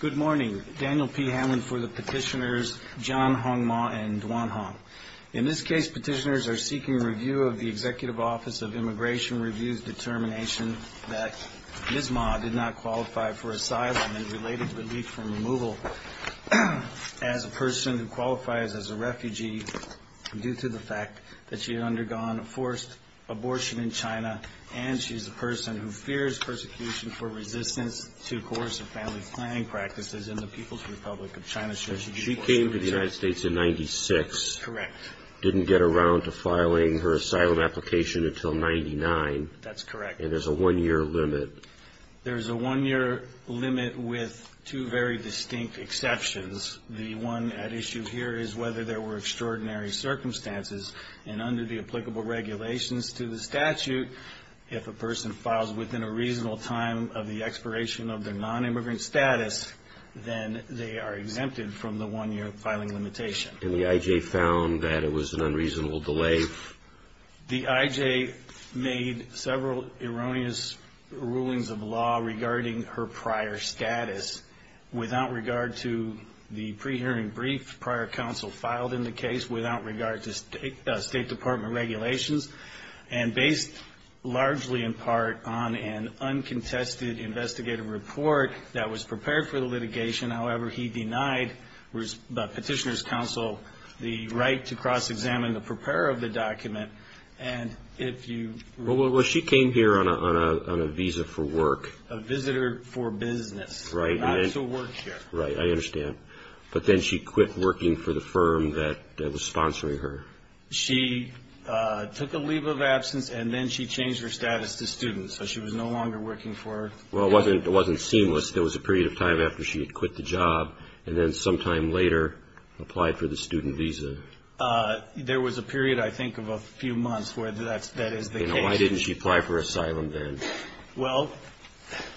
Good morning. Daniel P. Hamlin for the petitioners John Hongma and Duan Hong. In this case, petitioners are seeking review of the Executive Office of Immigration Review's determination that Ms. Ma did not qualify for asylum and related relief from removal as a person who qualifies as a refugee due to the fact that she had undergone a forced abortion in China and she is a person who fears persecution for resistance to coercive family planning practices in the People's Republic of China. She came to the United States in 1996. Correct. Didn't get around to filing her asylum application until 1999. That's correct. And there's a one-year limit. There's a one-year limit with two very distinct exceptions. The one at issue here is whether there were extraordinary circumstances and under the applicable regulations to the person files within a reasonable time of the expiration of their non-immigrant status, then they are exempted from the one-year filing limitation. And the IJ found that it was an unreasonable delay? The IJ made several erroneous rulings of law regarding her prior status without regard to the pre-hearing brief prior counsel filed in the case, without regard to State Department regulations, and based largely in part on an uncontested investigative report that was prepared for the litigation. However, he denied the petitioner's counsel the right to cross-examine the preparer of the document. And if you... Well, she came here on a visa for work. A visitor for business. Right. Not to work here. Right. I understand. But then she quit working for the firm that was sponsoring her. She took a leave of absence and then she changed her status to student, so she was no longer working for... Well, it wasn't seamless. There was a period of time after she had quit the job and then sometime later applied for the student visa. There was a period, I think, of a few months where that is the case. And why didn't she apply for asylum then? Well,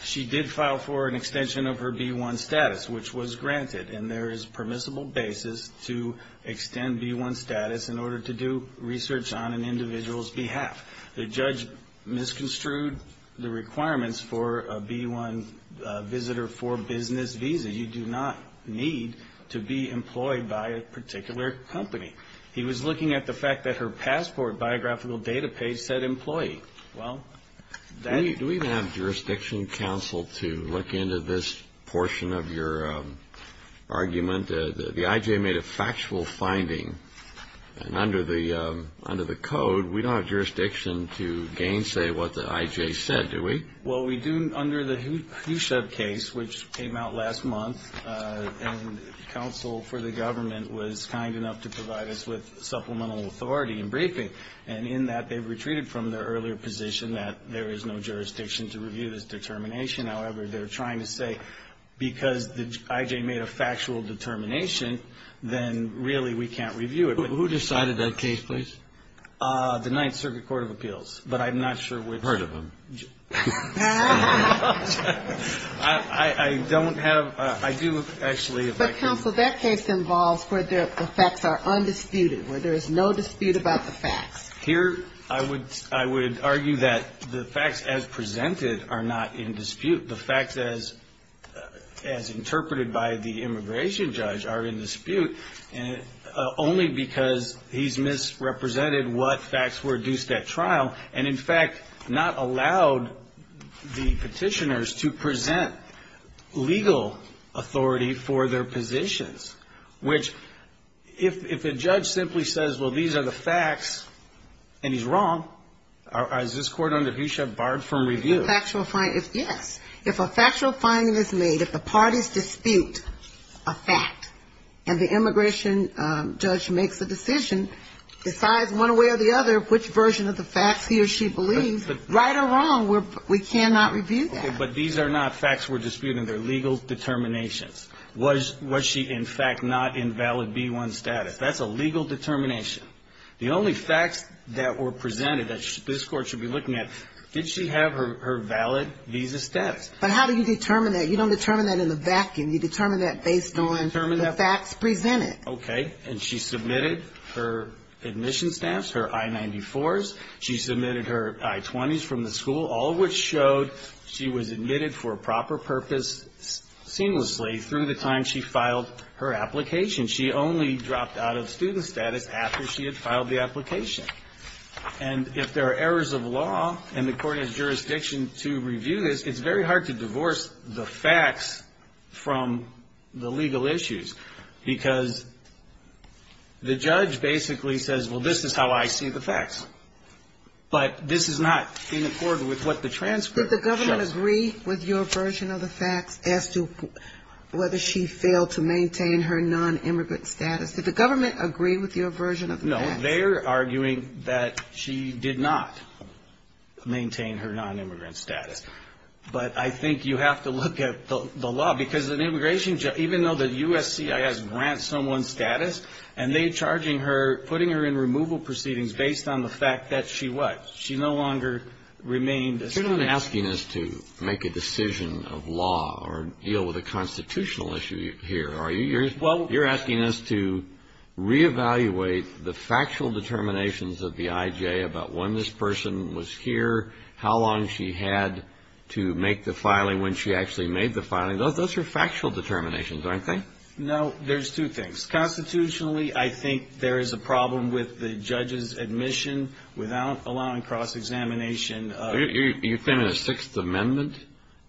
she did file for an B-1 status, which was granted, and there is permissible basis to extend B-1 status in order to do research on an individual's behalf. The judge misconstrued the requirements for a B-1 visitor for business visa. You do not need to be employed by a particular company. He was looking at the fact that her passport biographical data page said employee. Well, Do we have jurisdiction, counsel, to look into this portion of your argument? The I.J. made a factual finding, and under the code, we don't have jurisdiction to gainsay what the I.J. said, do we? Well, we do under the Hushev case, which came out last month, and counsel for the government was kind enough to provide us with supplemental authority in briefing. And in that, they've retreated from their earlier position that there is no jurisdiction to review this determination. However, they're trying to say because the I.J. made a factual determination, then really we can't review it. Who decided that case, please? The Ninth Circuit Court of Appeals, but I'm not sure which. I've heard of them. I don't have, I do actually, if I can. But counsel, that case involves where the effects are undisputed, where there is no dispute about the facts. Here, I would argue that the facts as presented are not in dispute. The facts as interpreted by the immigration judge are in dispute, only because he's misrepresented what facts were used at trial, and in fact not allowed the petitioners to present legal authority for their positions, which if the judge simply says, well, these are the facts, and he's wrong, is this court under Hushev barred from review? A factual finding, yes. If a factual finding is made, if the parties dispute a fact, and the immigration judge makes a decision, decides one way or the other which version of the facts he or she believes, right or wrong, we cannot review that. But these are not facts we're disputing. They're legal determinations. Was she, in fact, not in valid B-1 status? That's a legal determination. The only facts that were presented that this court should be looking at, did she have her valid visa status? But how do you determine that? You don't determine that in the vacuum. You determine that based on the facts presented. Okay. And she submitted her admission stamps, her I-94s. She submitted her I-20s from the school, all of which showed she was admitted for a proper purpose seamlessly through the time she filed her application. She only dropped out of student status after she had filed the application. And if there are errors of law and the court has jurisdiction to review this, it's very hard to divorce the facts from the legal issues, because the judge basically says, well, this is how I see the facts. But this is not in accord with what the transcript shows. Did the government agree with your version of the facts as to whether she failed to maintain her nonimmigrant status? Did the government agree with your version of the facts? No. They're arguing that she did not maintain her nonimmigrant status. But I think you have to look at the law, because an immigration judge, even though the USCIS grants someone status, and they're charging her, putting her in removal proceedings based on the fact that she what? She no longer remained a student. But you're not asking us to make a decision of law or deal with a constitutional issue here, are you? You're asking us to reevaluate the factual determinations of the IJ about when this person was here, how long she had to make the filing, when she actually made the filing. Those are factual determinations, aren't they? No. There's two things. Constitutionally, I think there is a problem with the judge's examination of... You think it's a Sixth Amendment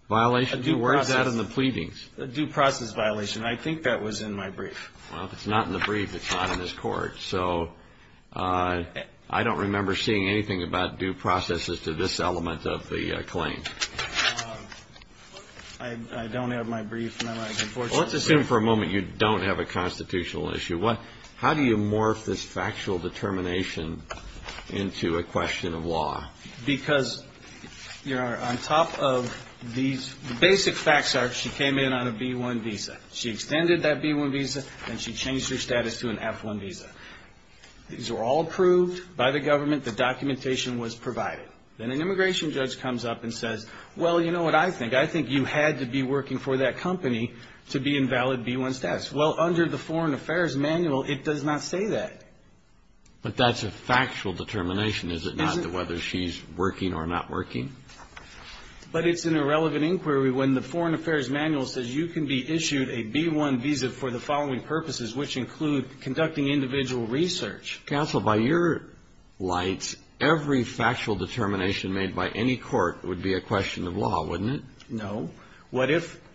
violation? Where is that in the pleadings? A due process violation. I think that was in my brief. Well, if it's not in the brief, it's not in this court. So I don't remember seeing anything about due process as to this element of the claim. I don't have my brief. Let's assume for a moment you don't have a constitutional issue. How do you morph this factual determination into a question of law? Because on top of these basic facts are she came in on a B-1 visa. She extended that B-1 visa and she changed her status to an F-1 visa. These were all approved by the government. The documentation was provided. Then an immigration judge comes up and says, well, you know what I think? I think you had to be working for that company to be in valid B-1 status. Well, under the Foreign Affairs Manual, it does not say that. But that's a factual determination, is it not, to whether she's working or not working? But it's an irrelevant inquiry when the Foreign Affairs Manual says you can be issued a B-1 visa for the following purposes, which include conducting individual research. Counsel, by your lights, every factual determination,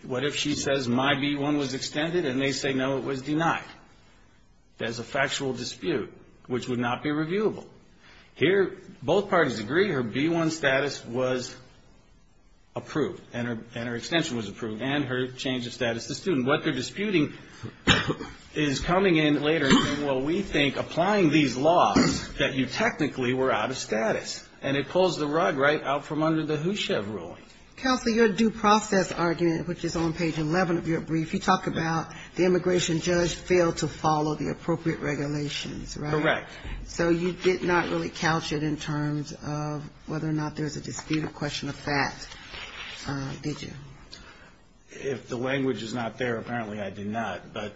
what if she says my B-1 was extended and they say no, it was denied? There's a factual dispute, which would not be reviewable. Here, both parties agree her B-1 status was approved and her extension was approved and her change of status to student. What they're disputing is coming in later and saying, well, we think applying these laws that you technically were out of status. And it pulls the rug right out from under the HUSHEV ruling. Counsel, your due process argument, which is on page 11 of your brief, you talk about the immigration judge failed to follow the appropriate regulations, right? Correct. So you did not really couch it in terms of whether or not there's a disputed question of fact, did you? If the language is not there, apparently I did not. But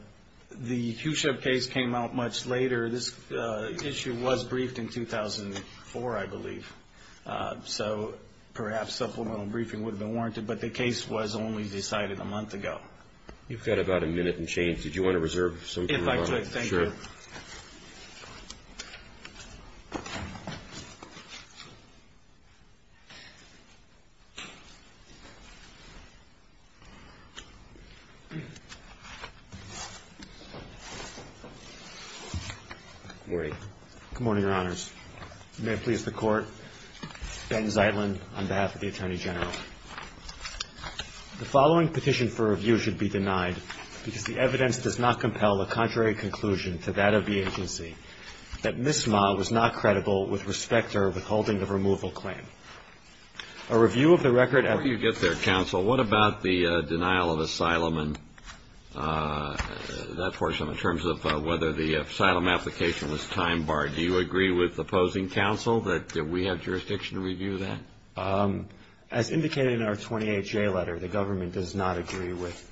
the HUSHEV case came out much later. This issue was briefed in 2004, I believe. So perhaps supplemental briefing would have been warranted, but the case was only decided a month ago. You've got about a minute and change. Did you want to reserve some time? If I could, thank you. Good morning, Your Honors. May it please the Court. Ben Zeitlin on behalf of the Attorney General. The following petition for review should be denied because the evidence does not compel a contrary conclusion to that of the agency that Ms. Ma was not credible with respect to her withholding of removal claim. A review of the record... Before you get there, Counsel, what about the denial of asylum and that portion in terms of whether the asylum application was time-barred? Do you agree with opposing counsel that we have jurisdiction to review that? As indicated in our 28-J letter, the government does not agree with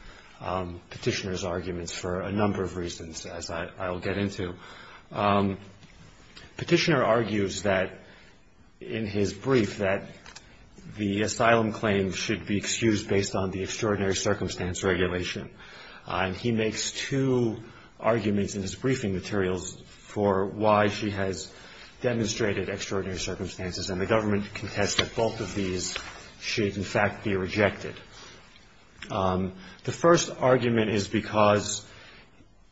Petitioner's arguments for a number of reasons, as I'll get into. Petitioner argues that, in his brief, that the asylum claim should be rejected. He makes two arguments in his briefing materials for why she has demonstrated extraordinary circumstances, and the government contests that both of these should, in fact, be rejected. The first argument is because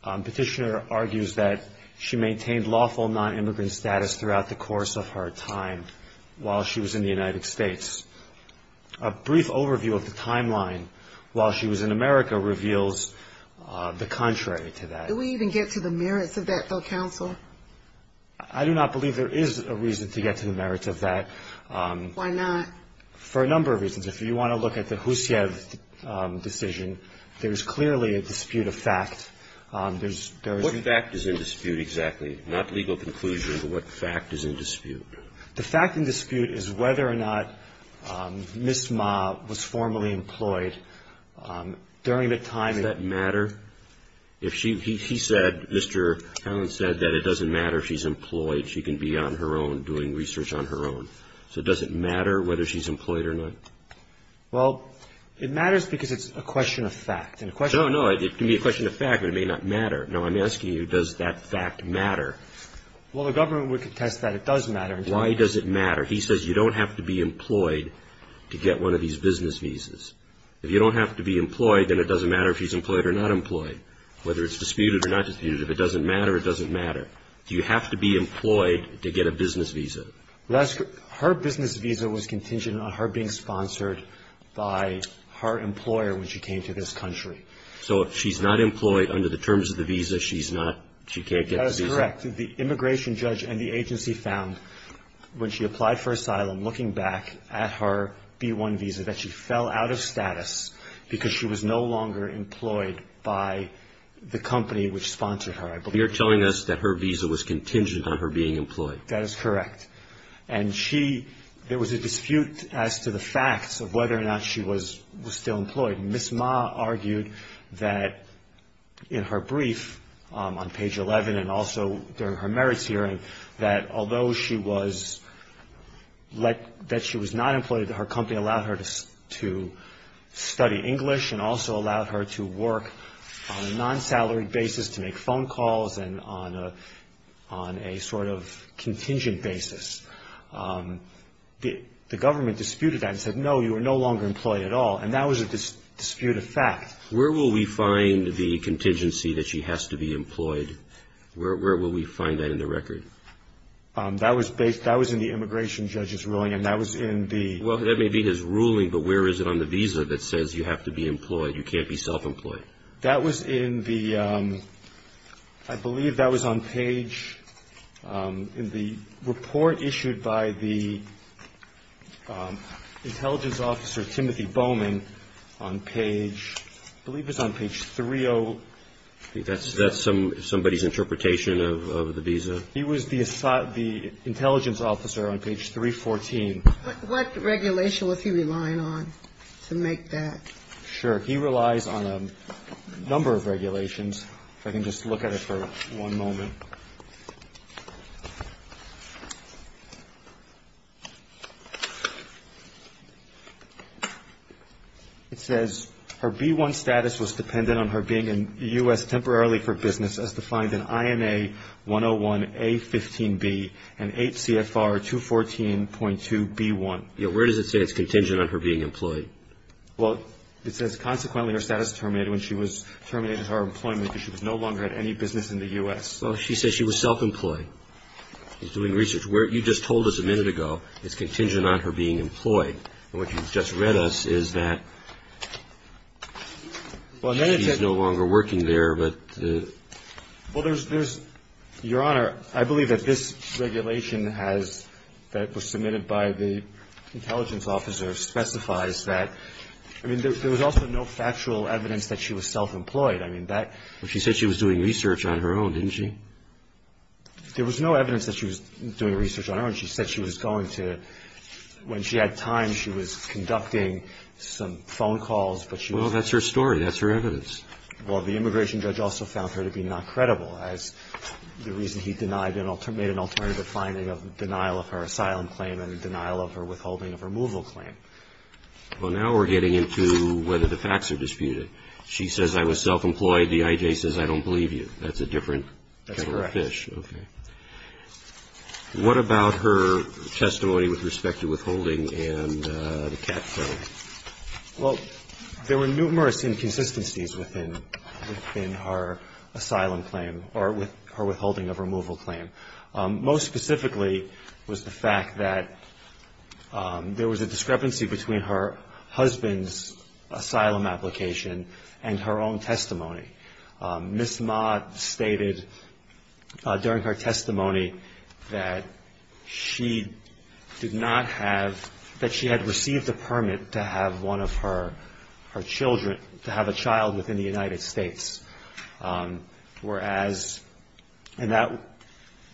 Petitioner argues that she maintained lawful non-immigrant status throughout the course of her time while she was in the United States. A brief overview of the timeline while she was in America reveals the contrary to that. Do we even get to the merits of that, though, Counsel? I do not believe there is a reason to get to the merits of that. Why not? For a number of reasons. If you want to look at the Husiev decision, there is clearly a dispute of fact. There is... What fact is in dispute exactly? Not legal conclusion, but what fact is in dispute? The fact in dispute is whether or not Ms. Ma was formally employed during the time... Does that matter? He said, Mr. Allen said that it doesn't matter if she's employed. She can be on her own doing research on her own. So does it matter whether she's employed or not? Well, it matters because it's a question of fact. No, no, it can be a question of fact, but it may not matter. Now, I'm asking you, does that fact matter? Well, the government would contest that it does matter. Why does it matter? He says you don't have to be employed to get one of these business visas. If you don't have to be employed, then it doesn't matter if she's employed or not employed, whether it's disputed or not disputed. If it doesn't matter, it doesn't matter. You have to be employed to get a business visa. Her business visa was contingent on her being sponsored by her employer when she came to this country. So if she's not employed under the terms of the visa, she's not, she can't get the visa? That is correct. The immigration judge and the agency found when she applied for asylum looking back at her B-1 visa that she fell out of status because she was no longer employed by the company which sponsored her, I believe. You're telling us that her visa was contingent on her being employed. That is correct. And she, there was a dispute as to the facts of whether or not she was still employed. Ms. Ma argued that in her brief on page 11 and also during her merits hearing that although she was, that she was not employed, that her company allowed her to study English and also allowed her to work on a non-salary basis to make phone calls and on a sort of contingent basis. The government disputed that and said, no, you are no longer employed at all. And that was a dispute of fact. Where will we find the contingency that she has to be employed? Where will we find that in the record? That was based, that was in the immigration judge's ruling and that was in the Well, that may be his ruling, but where is it on the visa that says you have to be employed? You can't be self-employed. That was in the, I believe that was on page, in the report issued by the immigration judge and that was issued by the intelligence officer, Timothy Bowman, on page, I believe it was on page 30. That's somebody's interpretation of the visa? He was the intelligence officer on page 314. What regulation was he relying on to make that? Sure. He relies on a number of regulations. If I can just look at it for one moment. It says, her B-1 status was dependent on her being in the U.S. temporarily for business, as defined in INA 101A15B and HCFR 214.2B1. Where does it say it's contingent on her being employed? Well, it says, consequently, her status terminated when she was terminated from her employment because she was no longer in any business in the U.S. Well, she says she was self-employed. She was doing research. You just told us a minute ago, it's contingent on her being employed. And what you just read us is that she's no longer working there, but Well, there's, Your Honor, I believe that this regulation has, that was submitted by the intelligence officer specifies that, I mean, there was also no factual evidence that she was self-employed. I mean, that Well, she said she was doing research on her own, didn't she? There was no evidence that she was doing research on her own. She said she was going to, when she had time, she was conducting some phone calls, but she Well, that's her story. That's her evidence. Well, the immigration judge also found her to be not credible as the reason he denied made an alternative finding of denial of her asylum claim and denial of her withholding of removal claim. Well, now we're getting into whether the facts are disputed. She says, I was self-employed. The IJ says, I don't believe you. That's a different kettle of fish. That's correct. Okay. What about her testimony with respect to withholding and the cat film? Well, there were numerous inconsistencies within her asylum claim or with her withholding of removal claim. Most specifically was the fact that there was a discrepancy between her husband's asylum application and her own testimony. Ms. Ma stated during her testimony that she did not have, that she had received a permit to have one of her children, to have a child within the United States. Whereas, and that,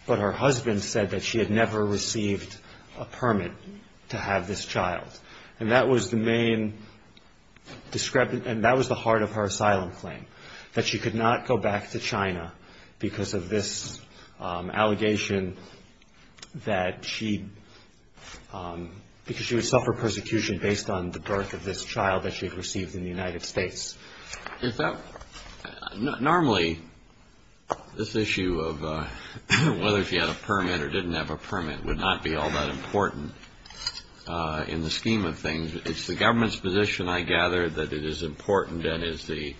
but her husband said that she had never received a permit to have this child. And that was the main discrepancy, and that was the heart of her asylum claim. That she could not go back to China because of this allegation that she, because she would suffer persecution based on the birth of this child that she had received in the United States. Is that, normally, this issue of whether she had a permit or didn't have a permit would not be all that important in the scheme. It's the government's position, I gather, that it is important and is the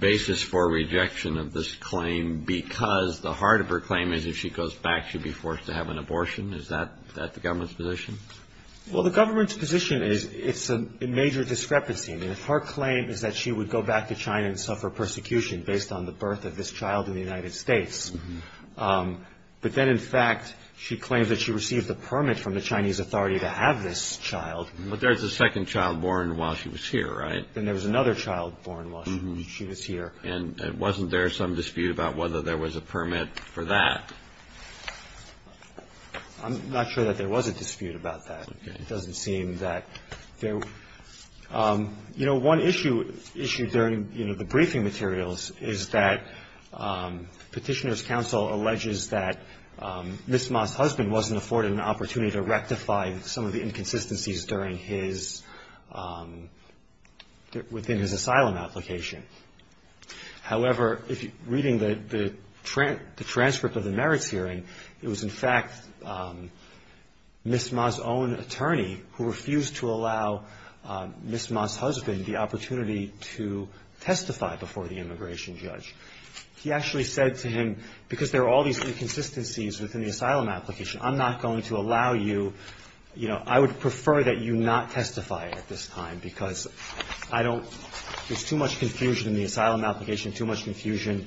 basis for rejection of this claim. Because the heart of her claim is if she goes back she'd be forced to have an abortion. Is that the government's position? Well, the government's position is it's a major discrepancy. I mean, if her claim is that she would go back to China and suffer persecution based on the birth of this child in the United States. But then, in fact, she claims that she received a permit from the Chinese authority to have this child. But there's a second child born while she was here, right? Then there was another child born while she was here. And wasn't there some dispute about whether there was a permit for that? I'm not sure that there was a dispute about that. Okay. It doesn't seem that there was. You know, one issue issued during, you know, the briefing materials is that Petitioner's Counsel alleges that Ms. Ma's husband wasn't afforded an opportunity to rectify some of the inconsistencies during his – within his asylum application. However, reading the transcript of the merits hearing, it was, in fact, Ms. Ma's own attorney who refused to allow Ms. Ma's husband the opportunity to testify before the immigration judge. He actually said to him, because there are all these inconsistencies within the asylum application, I'm not going to allow you – you know, I would prefer that you not testify at this time because I don't – there's too much confusion in the asylum application, too much confusion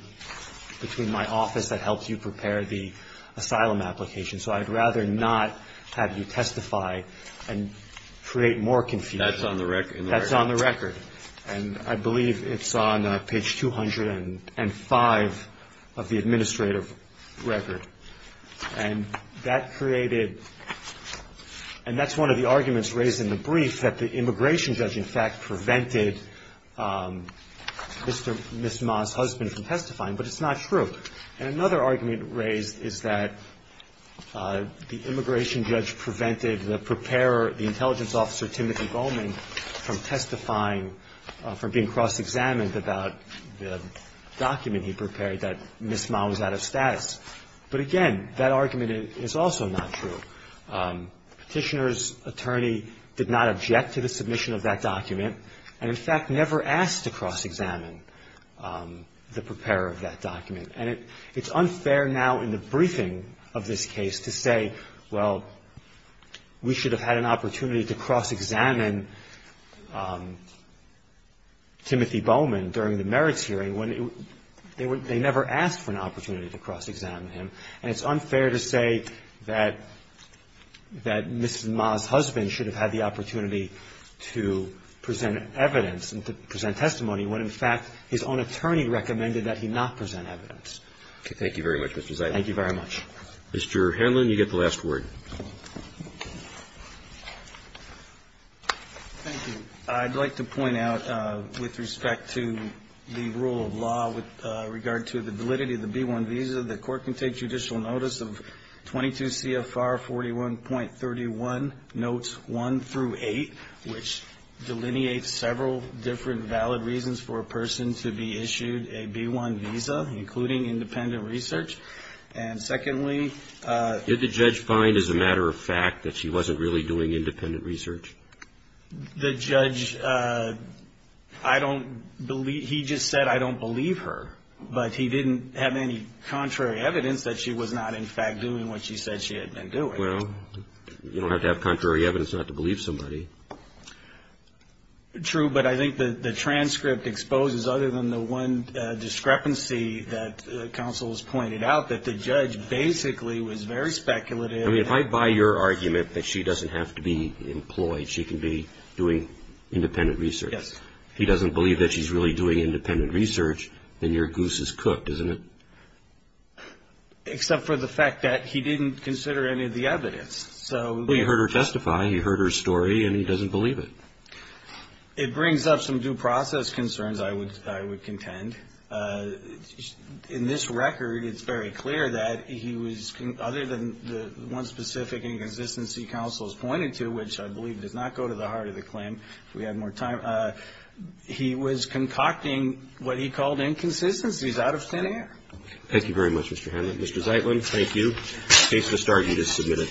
between my office that helps you prepare the asylum application. So I'd rather not have you testify and create more confusion. That's on the record. That's on the record. And I believe it's on page 205 of the administrative record. And that created – and that's one of the arguments raised in the brief, that the immigration judge, in fact, prevented Ms. Ma's husband from testifying, but it's not true. And another argument raised is that the immigration judge prevented the preparer, the intelligence officer Timothy Goldman, from testifying, from being cross-examined about the document he prepared, that Ms. Ma was out of status. But, again, that argument is also not true. Petitioner's attorney did not object to the submission of that document and, in fact, never asked to cross-examine the preparer of that document. And it's unfair now in the briefing of this case to say, well, we should have had an opportunity to cross-examine Timothy Goldman during the merits hearing when they never asked for an opportunity to cross-examine him. And it's unfair to say that Ms. Ma's husband should have had the opportunity to present evidence and to present testimony when, in fact, his own attorney recommended that he not present evidence. Roberts. Thank you very much, Mr. Zayden. Zayden. Thank you very much. Mr. Hanlon, you get the last word. Thank you. I'd like to point out, with respect to the rule of law with regard to the validity of the B-1 visa, the Court can take judicial notice of 22 CFR 41.31, notes 1 through 8, which delineates several different valid reasons for a person to be issued a B-1 visa, including independent research. And, secondly ---- Did the judge find, as a matter of fact, that she wasn't really doing independent research? The judge, I don't believe ---- he just said, I don't believe her. But he didn't have any contrary evidence that she was not, in fact, doing what she said she had been doing. Well, you don't have to have contrary evidence not to believe somebody. True, but I think the transcript exposes, other than the one discrepancy that counsel has pointed out, that the judge basically was very speculative. I mean, if I buy your argument that she doesn't have to be employed, she can be doing independent research. Yes. If he doesn't believe that she's really doing independent research, then your goose is cooked, isn't it? Except for the fact that he didn't consider any of the evidence. Well, you heard her testify, you heard her story, and he doesn't believe it. It brings up some due process concerns, I would contend. In this record, it's very clear that he was, other than the one specific inconsistency counsel has pointed to, which I believe does not go to the heart of the claim, if we have more time, he was concocting what he called inconsistencies out of thin air. Thank you very much, Mr. Hanlon. Mr. Zeitlin, thank you. Case to start. You just submitted.